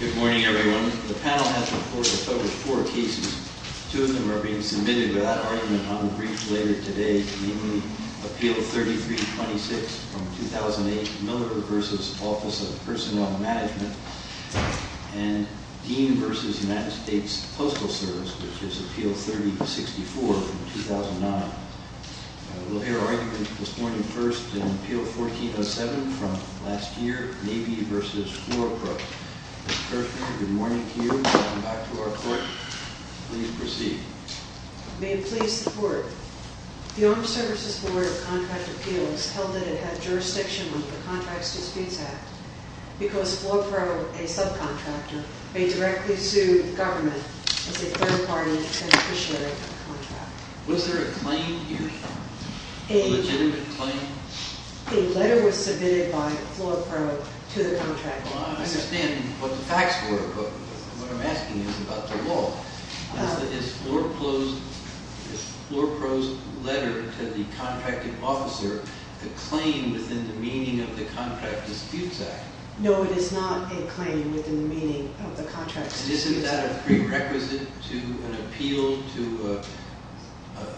Good morning, everyone. The panel has reported a total of four cases. Two of them are being submitted without argument on the briefs later today, namely, Appeal 3326 from 2008, Miller v. Office of Personnel Management, and Dean v. United States Postal Service, which is last year, Navy v. Floorpro. Ms. Kirchner, good morning to you. Welcome back to our court. Please proceed. May it please the Court, the Armed Services Board of Contract Appeals held that it had jurisdiction over the Contracts Disputes Act because Floorpro, a subcontractor, may directly sue the government as a third-party beneficiary of the contract. Was there a claim here? A legitimate claim? A letter was submitted by Floorpro to the contracting officer. I understand what the facts were, but what I'm asking is about the law. Is Floorpro's letter to the contracting officer a claim within the meaning of the Contracts Disputes Act? No, it is not a claim within the meaning of the Contracts Disputes Act. And isn't that prerequisite to an appeal to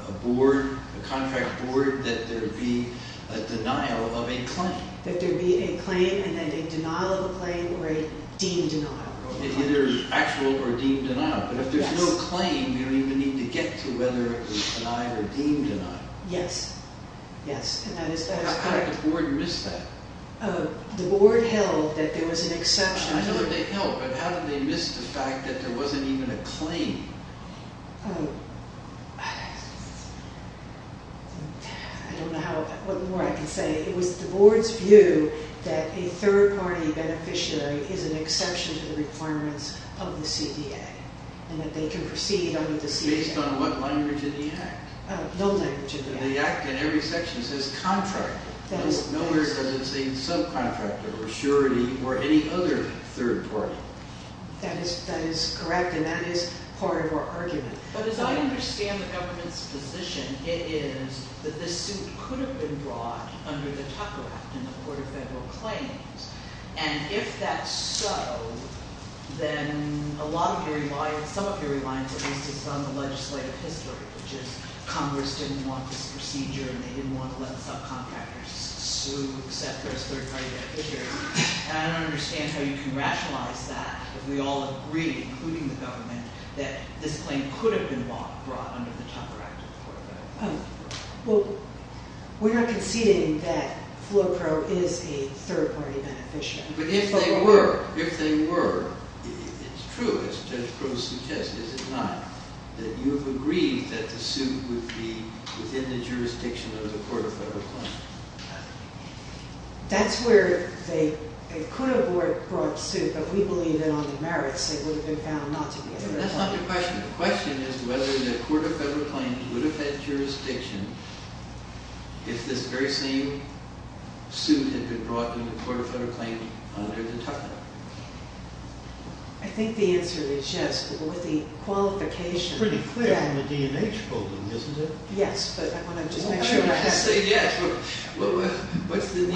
a board, a contract board, that there be a denial of a claim? That there be a claim and then a denial of a claim or a deemed denial. Either actual or deemed denial. But if there's no claim, you don't even need to get to whether it was denied or deemed denied. Yes, yes. And that is correct. How did the board miss that? The board missed the fact that there wasn't even a claim. I don't know what more I can say. It was the board's view that a third-party beneficiary is an exception to the requirements of the CDA and that they can proceed under the CDA. Based on what language in the Act? No language in the Act. The Act in every section says contractor. No where does it say subcontractor or surety or any other third party? That is correct and that is part of our argument. But as I understand the government's position, it is that this suit could have been brought under the Tucker Act in the Court of Federal Claims. And if that's so, then a lot of your reliance, some of your reliance at least is on the legislative history, which is Congress didn't want this procedure and they didn't want to let the subcontractors sue, accept this third-party beneficiary. And I don't understand how you can rationalize that if we all agree, including the government, that this claim could have been brought under the Tucker Act in the Court of Federal Claims. Well, we are conceding that Flo Pro is a third-party beneficiary. But if they were, if they were, it's true as Judge Pro suggests, is it not, that you have agreed that the suit would be within the jurisdiction of the Court of Federal Claims? That's where they could have brought the suit, but we believe that on the merits it would have been found not to be. That's not your question. The question is whether the Court of Federal Claims would have had jurisdiction if this very same suit had been brought in the Court of Federal Claims under the Tucker Act. I think the answer is yes, with the qualification. It's pretty clear on the D&H holding, isn't it? Yes, but I want to just make sure.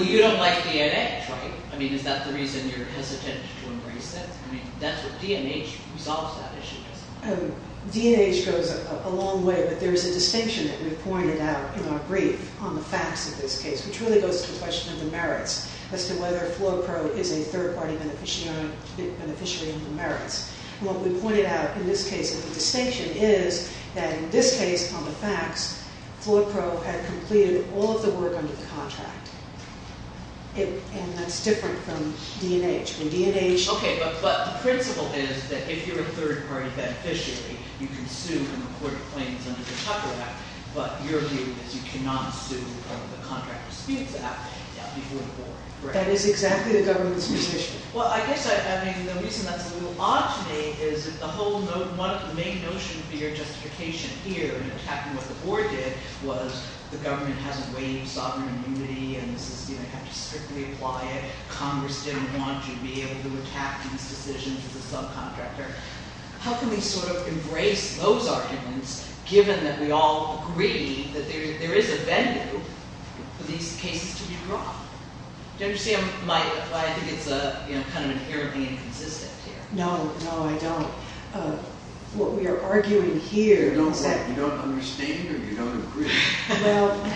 You don't like D&H, right? I mean, is that the reason you're hesitant to embrace it? I mean, that's what, D&H resolves that issue, doesn't it? D&H goes a long way, but there is a distinction that we've pointed out in our brief on the facts of this case, which really goes to the question of the merits, as to whether Flo Pro is a third-party beneficiary of the merits. What we pointed out in this case of the distinction is that in this case on the facts, Flo Pro had completed all of the work under the contract, and that's different from D&H. Okay, but the principle is that if you're a third-party beneficiary, you can sue in the Court of Claims under the Tucker Act, but your view is you cannot sue under the Contract of Speeds Act before the war, right? That is exactly the government's position. Well, I guess, I mean, the reason that's a little odd to me is that the whole main notion for your justification here in attacking what the board did was the government hasn't waived sovereign immunity, and this is, you know, you have to strictly apply it. Congress didn't want you to be able to attack these decisions as a subcontractor. How can we sort of embrace those arguments, given that we all agree that there is a venue for these kinds of things? I mean, you're kind of inherently inconsistent here. No, no, I don't. What we are arguing here is that... You don't understand, or you don't agree? Well, I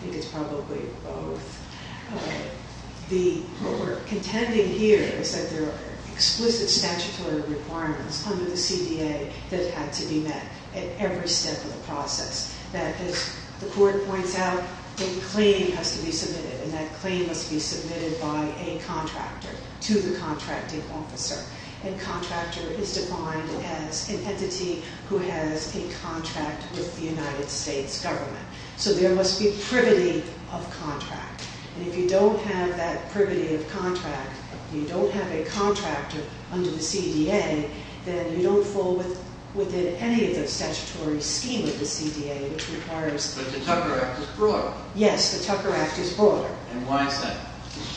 think it's probably both. What we're contending here is that there are explicit statutory requirements under the CDA that have to be met at every step of the process, that as the Court points out, a claim has to be submitted, and that claim must be submitted by a contractor to the contracting officer, and contractor is defined as an entity who has a contract with the United States government. So there must be privity of contract, and if you don't have that privity of contract, you don't have a contractor under the CDA, then you don't fall within any of the statutory scheme of the CDA, which requires... But the Tucker Act is broader. Yes, the Tucker Act is broader. And why is that?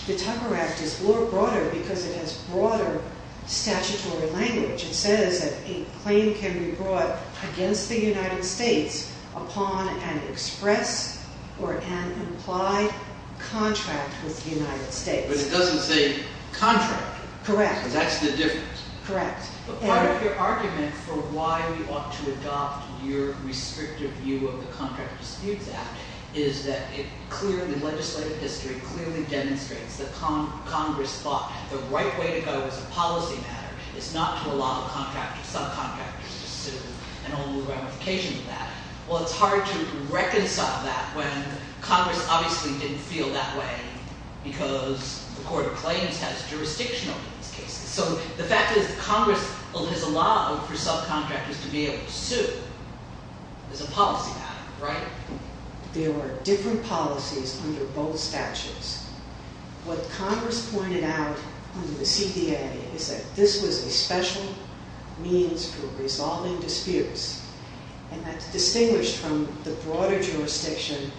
The Tucker Act is broader because it has broader statutory language. It says that a claim can be brought against the United States upon an express or an implied contract with the United States. But it doesn't say contract. Correct. So that's the difference. Correct. But part of your argument for why you ought to adopt your restrictive view of the Contract of Disputes Act is that it clearly, legislative history clearly demonstrates that Congress thought the right way to go as a policy matter is not to allow a contractor, subcontractor, to sue, and all the ramifications of that. Well, it's hard to reconcile that when Congress obviously didn't feel that way because the Court of Claims has jurisdiction over these cases. So the fact that Congress has allowed for subcontractors to be able to sue is a policy matter, right? There were different policies under both statutes. What Congress pointed out under the CDA is that this was a special means for resolving disputes. And that's distinguished from the broader jurisdiction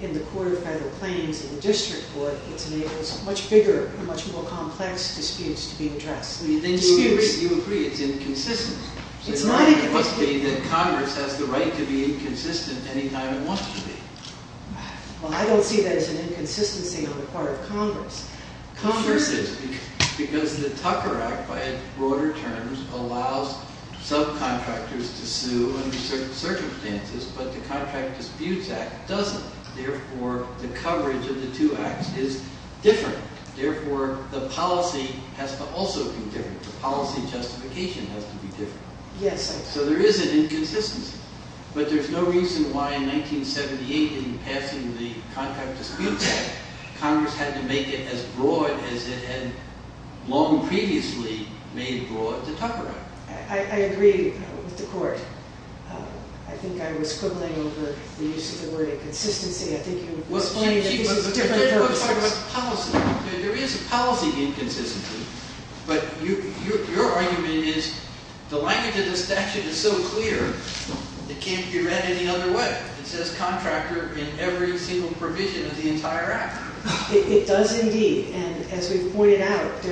in the Court of Federal Claims and the district court. It enables much bigger, much more complex disputes to be addressed. You agree it's inconsistent. It must be that Congress has the right to be inconsistent any time it wants to be. Well, I don't see that as an inconsistency on the part of Congress. Congress is because the Tucker Act by broader terms allows subcontractors to sue under certain is different. Therefore, the policy has to also be different. The policy justification has to be different. So there is an inconsistency. But there's no reason why in 1978 in passing the contract dispute, Congress had to make it as broad as it had long previously made broad the Tucker Act. I agree with the Court. I think I was quibbling over the use of the term inconsistency. There is a policy inconsistency. But your argument is the language of the statute is so clear, it can't be read any other way. It says contractor in every single provision of the entire act. It does indeed. And as we've pointed out,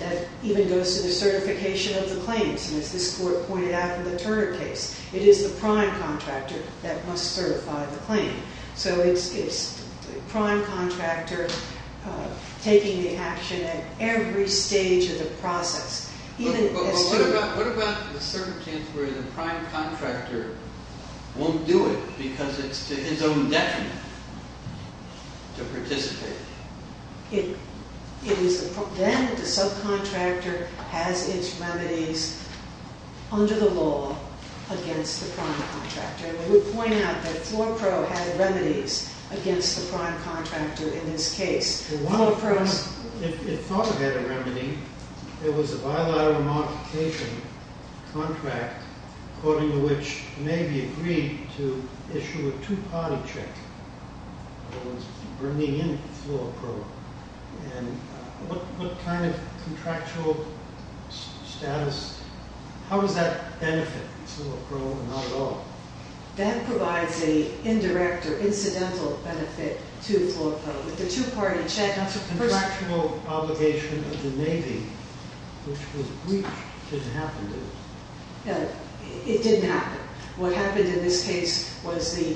that even goes to the certification of the claims. And as this Court pointed out in the Turner case, it is the prime contractor that must certify the claim. So it's the prime contractor taking the action at every stage of the process. But what about the circumstance where the prime contractor won't do it because it's to his own detriment to participate? Then the subcontractor has its remedies under the law against the prime contractor. And we point out that Floor Pro had remedies against the prime contractor in this case. Floor Pro... It thought it had a remedy. It was a bilateral modification contract, according to which may be agreed to issue a two-party check that was bringing in Floor Pro. And what kind of contractual status... How does that benefit Floor Pro? That provides an indirect or incidental benefit to Floor Pro. That's a contractual obligation of the Navy, which was breached. It didn't happen, did it? It didn't happen. What happened in this case was the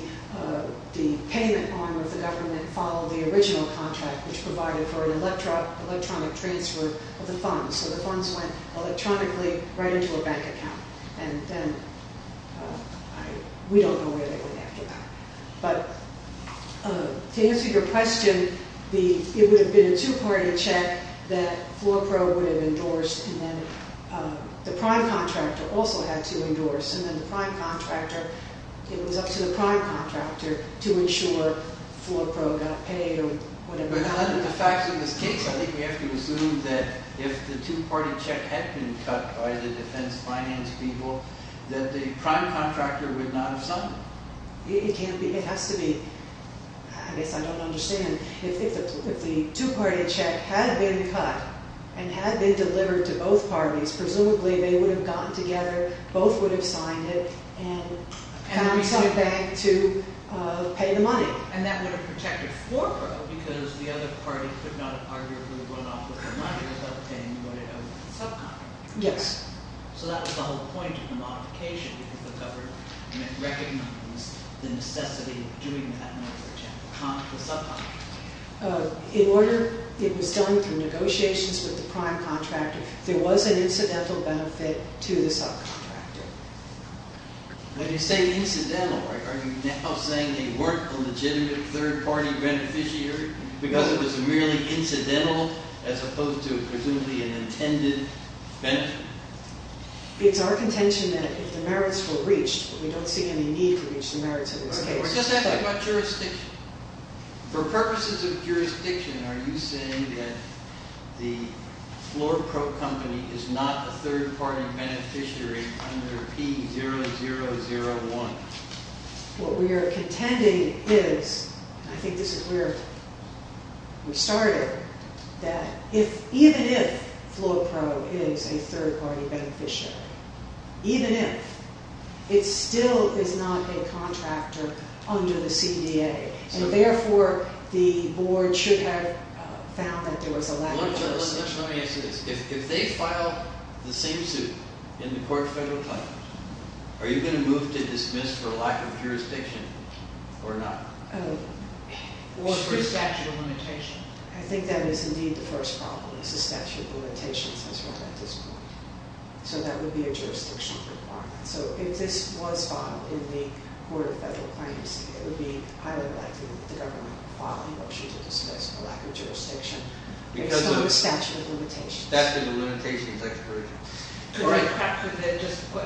payment arm of the government followed the original contract, which provided for an electronic transfer of the funds. So the funds went electronically right into a bank account. And then we don't know where they went after that. But to answer your question, it would have been a two-party check that Floor Pro would have endorsed, and then the prime contractor also had to endorse. And it was up to the prime contractor to ensure Floor Pro got paid or whatever happened. But under the facts of this case, I think we have to assume that if the two-party check had been cut by the defense finance people, that the prime contractor would not have signed it. It can't be. It has to be. I guess I don't understand. If the two-party check had been cut and had been delivered to both parties, presumably they would have gotten together, both would have signed it, and found some bank to pay the money. And that would have protected Floor Pro because the other party could not have arguably run off with the money without paying what it owed to the subcontractor. Yes. So that was the whole point of the modification, because the government recognized the necessity of doing that in order to counter the subcontractor. In order, it was done through negotiations with the prime contractor, there was an incidental benefit to the subcontractor. When you say incidental, are you now saying they weren't a legitimate third-party beneficiary because it was merely incidental as opposed to presumably an intended benefit? It's our contention that if the merits were reached, but we don't see any need to reach the merits of this case. We're just asking about jurisdiction. For purposes of jurisdiction, are you saying that the Floor Pro company is not a third-party beneficiary under P0001? What we are contending is, I think this is where we started, that even if Floor Pro is a third-party beneficiary, even if, it still is not a contractor under the CDA. Therefore, the Board should have found that there was a lack of jurisdiction. Look, there's no answer to this. If they file the same suit in the Court of Federal Claims, are you going to move to dismiss for lack of jurisdiction or not? Or for statute of limitations. I think that is indeed the first problem, is the statute of limitations that's run at this point. So that would be a jurisdictional requirement. So, if this was filed in the Court of Federal Claims, it would be highly likely that the government would file a motion to dismiss for lack of jurisdiction, based on the statute of limitations. Statute of limitations, I've heard. Did the contractor then just put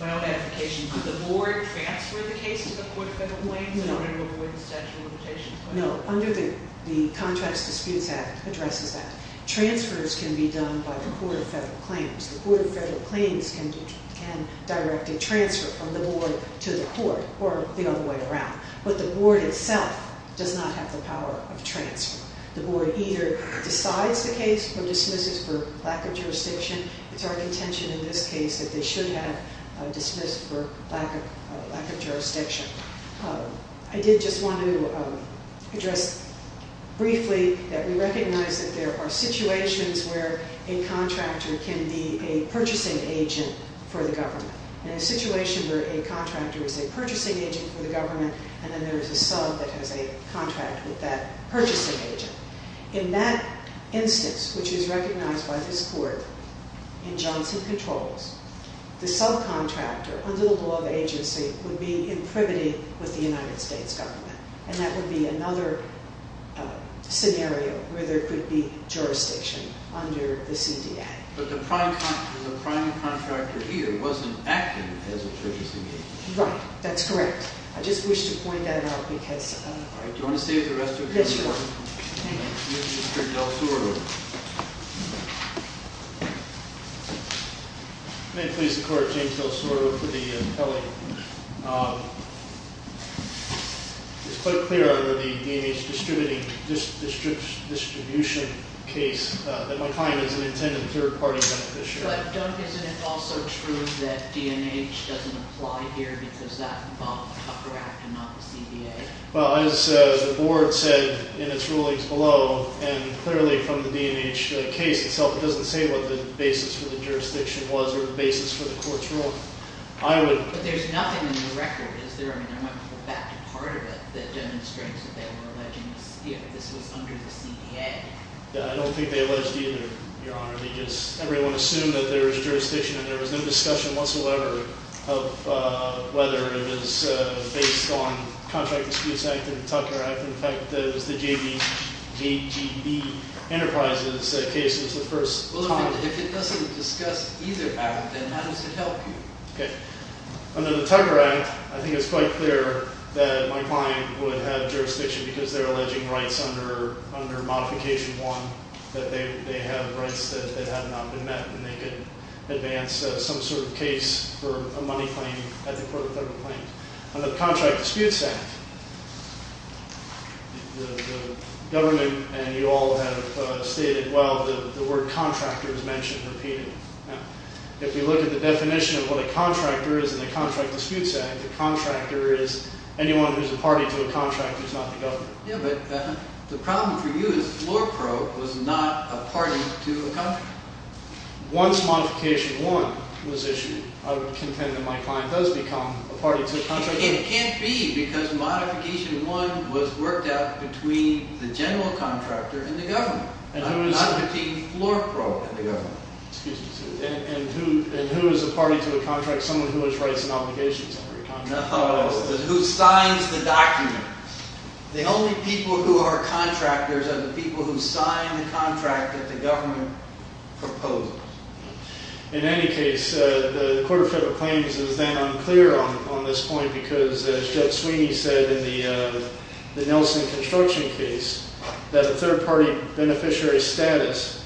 my own application to the Board and transfer the case to the Court of Federal Claims in order to avoid the statute of limitations? No, under the Contracts Disputes Act addresses that. Transfers can be done by the Court of Federal Claims. The Court of Federal Claims can directly transfer from the Board to the Court, or the other way around. But the Board itself does not have the power of transfer. The Board either decides the case or dismisses for lack of jurisdiction. It's our contention in this case that they should have dismissed for lack of jurisdiction. I did just want to address briefly that we recognize that there are situations where a contractor can be a purchasing agent for the government. In a situation where a contractor is a purchasing agent for the government, and then there is a sub that has a contract with that purchasing agent. In that instance, which is recognized by this Court in Johnson Controls, the subcontractor, under the law of agency, would be in privity with the United States government. And that would be another scenario where there could be jurisdiction under the CDA. But the prime contractor here wasn't acting as a purchasing agent. Right, that's correct. I just wish to point that out because... All right, do you want to save the rest of your time? Yes, Your Honor. Thank you. We have Mr. Del Soro. May it please the Court, James Del Soro for the appellate. It's quite clear under the D&H distribution case that my client is an intended third-party beneficiary. But don't, isn't it also true that D&H doesn't apply here because that involved the Tucker Act and not the CDA? Well, as the Board said in its rulings below, and clearly from the D&H case itself, it doesn't say what the basis for the jurisdiction was or the basis for the Court's ruling. But there's nothing in the record, is there? I mean, I want to go back to part of it that demonstrates that they were alleging this was under the CDA. Yeah, I don't think they alleged either, Your Honor. They just, everyone assumed that there was jurisdiction and there was no discussion whatsoever of whether it was based on Contract Excuse Act and the Tucker Act. In fact, it was the JGB Enterprises case that was the first... Well, if it doesn't discuss either act, then how does it help you? Okay. Under the Tucker Act, I think it's quite clear that my client would have jurisdiction because they're alleging rights under Modification 1, that they have rights that have not been met and they could advance some sort of case for a money claim at the Court of Federal Claims. Under the Contract Disputes Act, the government and you all have stated, well, the word contractor is mentioned repeatedly. Now, if you look at the definition of what a contractor is in the Contract Disputes Act, a contractor is anyone who's a party to a contract who's not the government. Yeah, but the problem for you is LORPRO was not a party to a contract. Once Modification 1 was issued, I would contend that my client does become a party to a contract. It can't be because Modification 1 was worked out between the general contractor and the government, not between LORPRO and the government. And who is a party to a contract? Someone who has rights and obligations under a contract? No, who signs the document. The only people who are contractors are the people who sign the contract that the government proposes. In any case, the Court of Federal Claims is then unclear on this point because, as Jeff Sweeney said in the Nelson construction case, that a third-party beneficiary status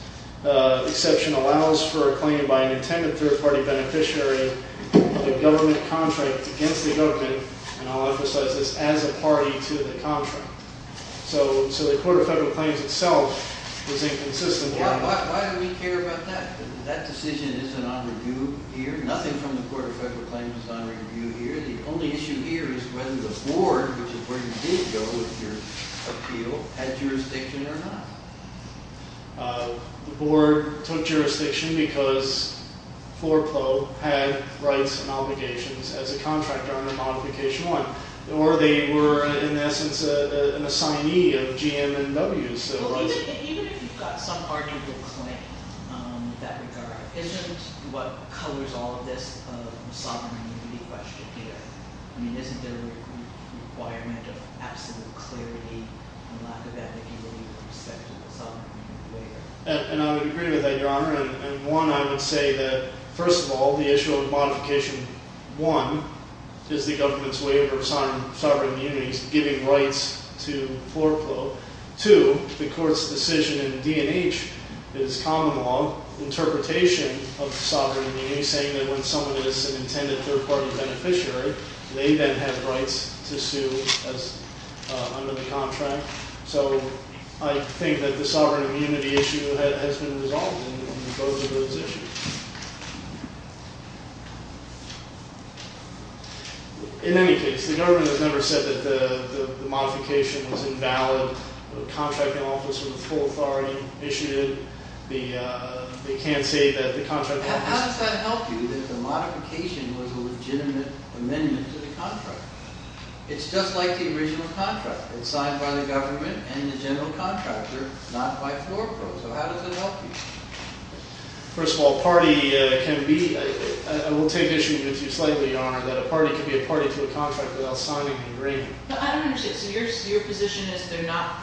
exception allows for a claim by an intended third-party beneficiary of a government contract against the government, and I'll emphasize this, as a party to the contract. So the Court of Federal Claims itself was inconsistent. Why do we care about that? That decision isn't on review here. Nothing from the Court of Federal Claims is on review here. The only issue here is whether the board, which is where you did go with your appeal, had jurisdiction or not. The board took jurisdiction because LORPRO had rights and obligations as a contractor under Modification 1, or they were, in essence, an assignee of GM&Ws. Even if you've got some arguable claim in that regard, isn't what colors all of this a sovereign duty question here? I mean, isn't there a requirement of absolute clarity and lack of that duty in respect to the sovereign duty waiver? And one, I would say that, first of all, the issue of Modification 1 is the government's waiver of sovereign immunities, giving rights to LORPRO. Two, the Court's decision in the D&H is common law interpretation of sovereign immunity, saying that when someone is an intended third-party beneficiary, they then have rights to sue under the contract. So I think that the sovereign immunity issue has been resolved in both of those issues. In any case, the government has never said that the modification was invalid. The contracting office with full authority issued it. They can't say that the contracting office... How does that help you, that the modification was a legitimate amendment to the contract? It's just like the original contract. It was signed by the government and the general contractor, not by LORPRO. So how does it help you? First of all, a party can be... I will take issue with you slightly, Your Honor, that a party can be a party to a contract without signing an agreement. No, I don't understand. So your position is we're not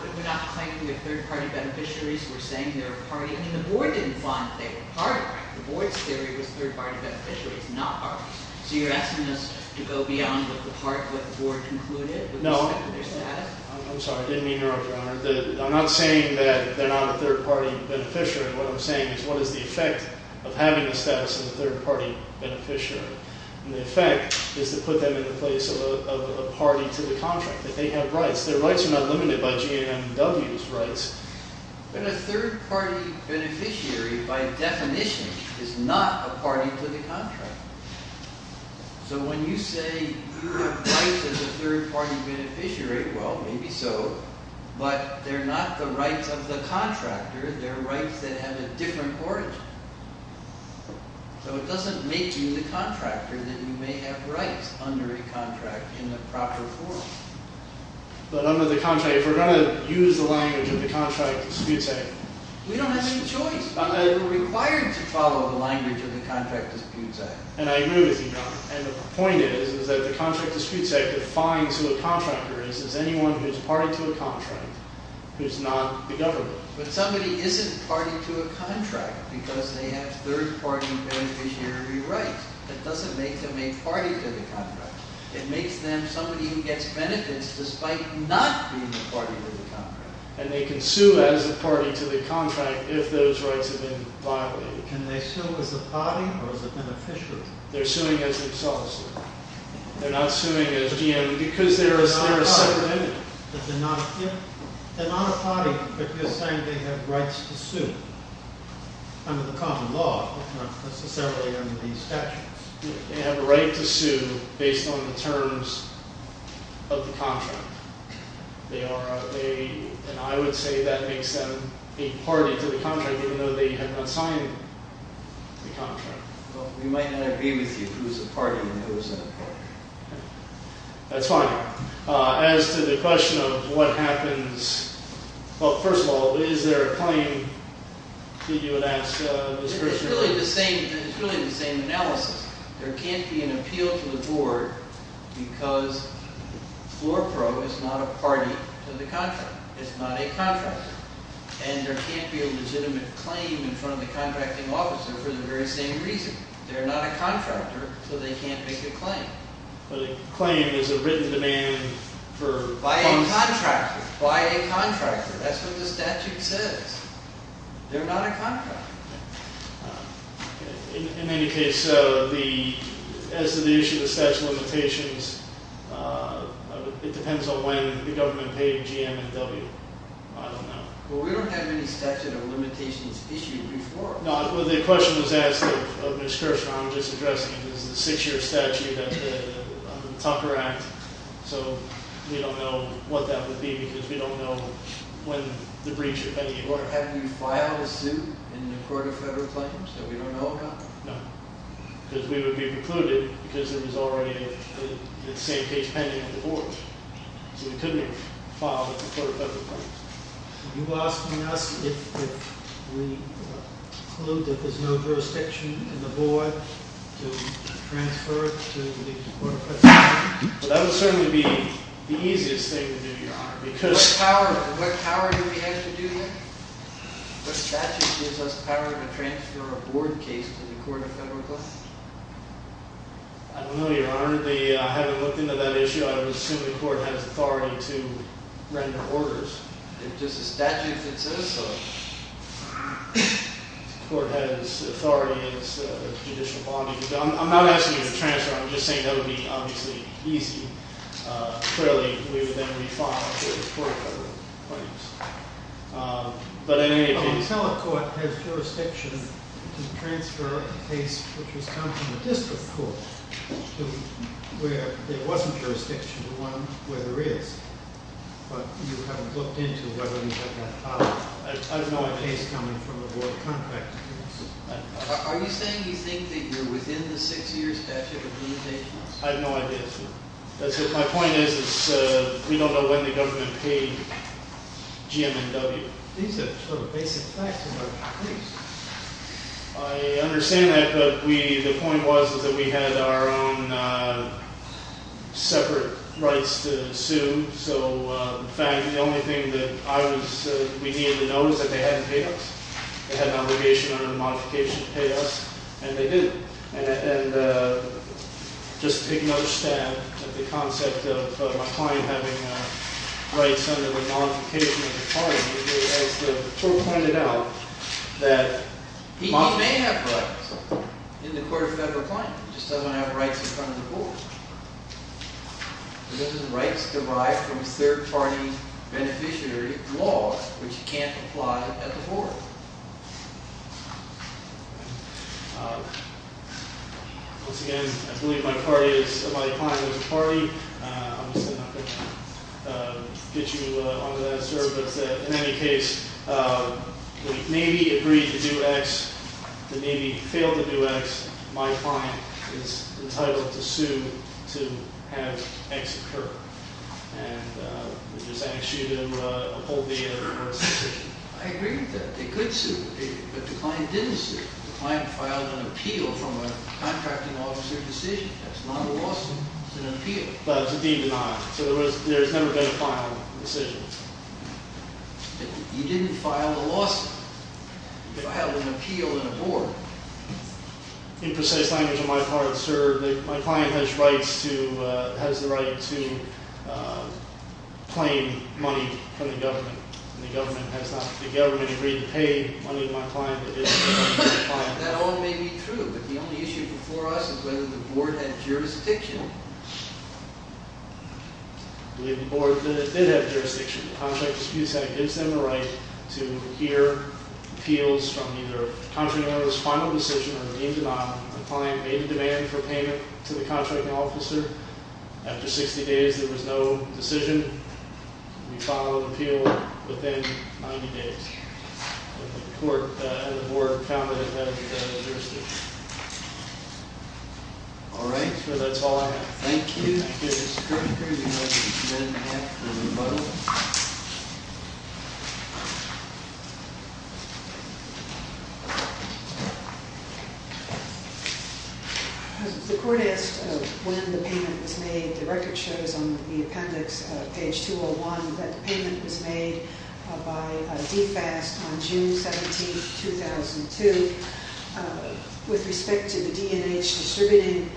claiming that third-party beneficiaries were saying they were a party? I mean, the Board didn't find that they were a party. The Board's theory was third-party beneficiaries, not parties. So you're asking us to go beyond the part that the Board concluded? No. I'm sorry, I didn't mean to interrupt, Your Honor. I'm not saying that they're not a third-party beneficiary. What I'm saying is what is the effect of having the status of a third-party beneficiary? And the effect is to put them in the place of a party to the contract, that they have rights. Their rights are not limited by GAMW's rights. But a third-party beneficiary, by definition, is not a party to the contract. So when you say you have rights as a third-party beneficiary, well, maybe so, but they're not the rights of the contractor. They're rights that have a different origin. So it doesn't make you the contractor that you may have rights under a contract in the proper form. But under the contract, if we're going to use the language of the Contract Disputes Act... We don't have any choice. We're required to follow the language of the Contract Disputes Act. And I agree with you, Your Honor. And the point is that the Contract Disputes Act defines who a contractor is as anyone who's party to a contract, who's not the government. But somebody isn't party to a contract because they have third-party beneficiary rights. That doesn't make them a party to the contract. It makes them somebody who gets benefits despite not being a party to the contract. And they can sue as a party to the contract if those rights have been violated. Can they sue as a party or as a beneficiary? They're suing as themselves. They're not suing as GAMW because they're a separate entity. They're not a party, but you're saying they have rights to sue under the common law, but not necessarily under these statutes. They have a right to sue based on the terms of the contract. They are a – and I would say that makes them a party to the contract even though they have not signed the contract. Well, we might not agree with you who's a party and who isn't a party. That's fine. As to the question of what happens – well, first of all, is there a claim that you would ask this person? It's really the same analysis. There can't be an appeal to the board because floor pro is not a party to the contract. It's not a contractor. And there can't be a legitimate claim in front of the contracting officer for the very same reason. They're not a contractor, so they can't make a claim. But a claim is a written demand for – By a contractor. By a contractor. That's what the statute says. They're not a contractor. In any case, as to the issue of the statute of limitations, it depends on when the government paid GM and W. I don't know. Well, we don't have any statute of limitations issued before. Well, the question was asked of Ms. Kirschner. I'm just addressing it because it's a six-year statute under the Tucker Act. So, we don't know what that would be because we don't know when the breach of any order – Have you filed a suit in the court of federal claims that we don't know about? No. Because we would be recluded because there was already a safe case pending at the board. So, we couldn't have filed a court of federal claims. Are you asking us if we conclude that there's no jurisdiction in the board to transfer to the court of federal claims? That would certainly be the easiest thing to do, Your Honor. What power do we have to do that? What statute gives us power to transfer a board case to the court of federal claims? I don't know, Your Honor. I haven't looked into that issue. I would assume the court has authority to render orders. It's just a statute that says so. The court has authority as a judicial body. I'm not asking you to transfer. I'm just saying that would be, obviously, easy. Clearly, we would then be filed for the court of federal claims. But, I mean, if you – A telecourt has jurisdiction to transfer a case which has come from the district court to where there wasn't jurisdiction to one where there is. But you haven't looked into whether you have that power. I don't know a case coming from a board of contractors. Are you saying you think that you're within the six years statute of limitations? I have no idea, sir. That's it. My point is we don't know when the government paid GM&W. These are sort of basic facts of our case. I understand that, but the point was that we had our own separate rights to sue. So, in fact, the only thing that we needed to know was that they hadn't paid us. They had an obligation under the modification to pay us, and they didn't. And just to take another stab at the concept of my client having rights under the modification of the claim, as the court pointed out, that – He may have rights in the court of federal claim. He just doesn't have rights in front of the board. Those are rights derived from third-party beneficiary laws, which can't apply at the board. Once again, I believe my client is a party. I'm just not going to get you onto that, sir. But in any case, the Navy agreed to do X. The Navy failed to do X. My client is entitled to sue to have X occur. And we'll just ask you to uphold the end of the court's decision. I agree with that. They could sue, but the client didn't sue. The client filed an appeal from a contracting officer decision. That's not a lawsuit. It's an appeal. But it's a deemed denial. So there's never been a final decision. You didn't file a lawsuit. You filed an appeal in a board. In precise language on my part, sir, my client has the right to claim money from the government. And the government has not. The government agreed to pay money to my client. That all may be true, but the only issue before us is whether the board had jurisdiction. I believe the board did have jurisdiction. The contract disputes act gives them the right to hear appeals from either a contracting officer's final decision or a deemed denial. My client made a demand for payment to the contracting officer. After 60 days, there was no decision. We filed an appeal within 90 days. And the court and the board found that it had jurisdiction. All right. Sir, that's all I have. Thank you. Thank you. The court asked when the payment was made. The record shows on the appendix, page 201, that the payment was made by DFAST on June 17, 2002. With respect to the D&H distributing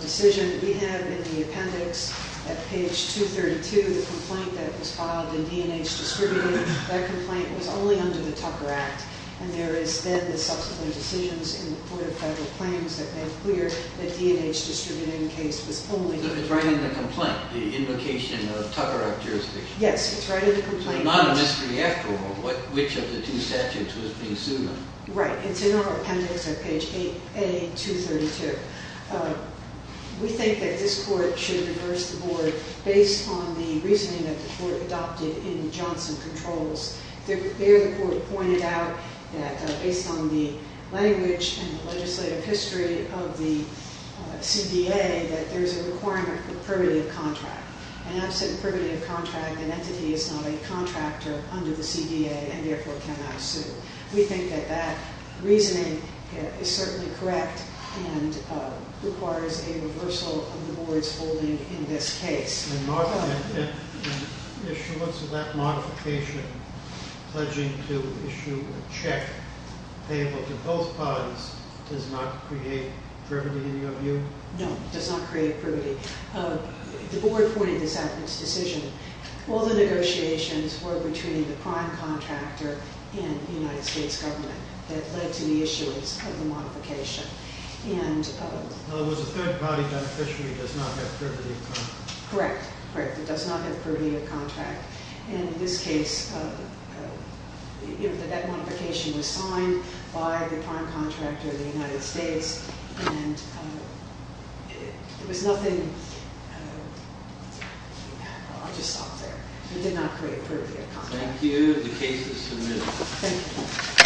decision, we have in the appendix, at page 232, the complaint that was filed in D&H distributing. That complaint was only under the Tucker Act. And there is then the subsequent decisions in the court of federal claims that made clear that the D&H distributing case was only- It's right in the complaint, the invocation of Tucker Act jurisdiction. Yes, it's right in the complaint. It's not a mystery after all which of the two statutes was being sued on. Right. It's in our appendix at page 8A, 232. We think that this court should reverse the board based on the reasoning that the court adopted in Johnson Controls. There, the court pointed out that based on the language and the legislative history of the CDA, that there is a requirement for primitive contract. An absent primitive contract, an entity is not a contractor under the CDA and therefore cannot sue. We think that that reasoning is certainly correct and requires a reversal of the board's holding in this case. And Mark, in issuance of that modification, pledging to issue a check payable to both parties does not create privity in your view? No, it does not create privity. The board pointed this out in its decision. All the negotiations were between the prime contractor and the United States government that led to the issuance of the modification. In other words, a third party beneficiary does not have privity of contract. Correct. Correct. It does not have privity of contract. And in this case, that modification was signed by the prime contractor of the United States and there was nothing... I'll just stop there. It did not create privity of contract. Thank you. The case is submitted. Thank you.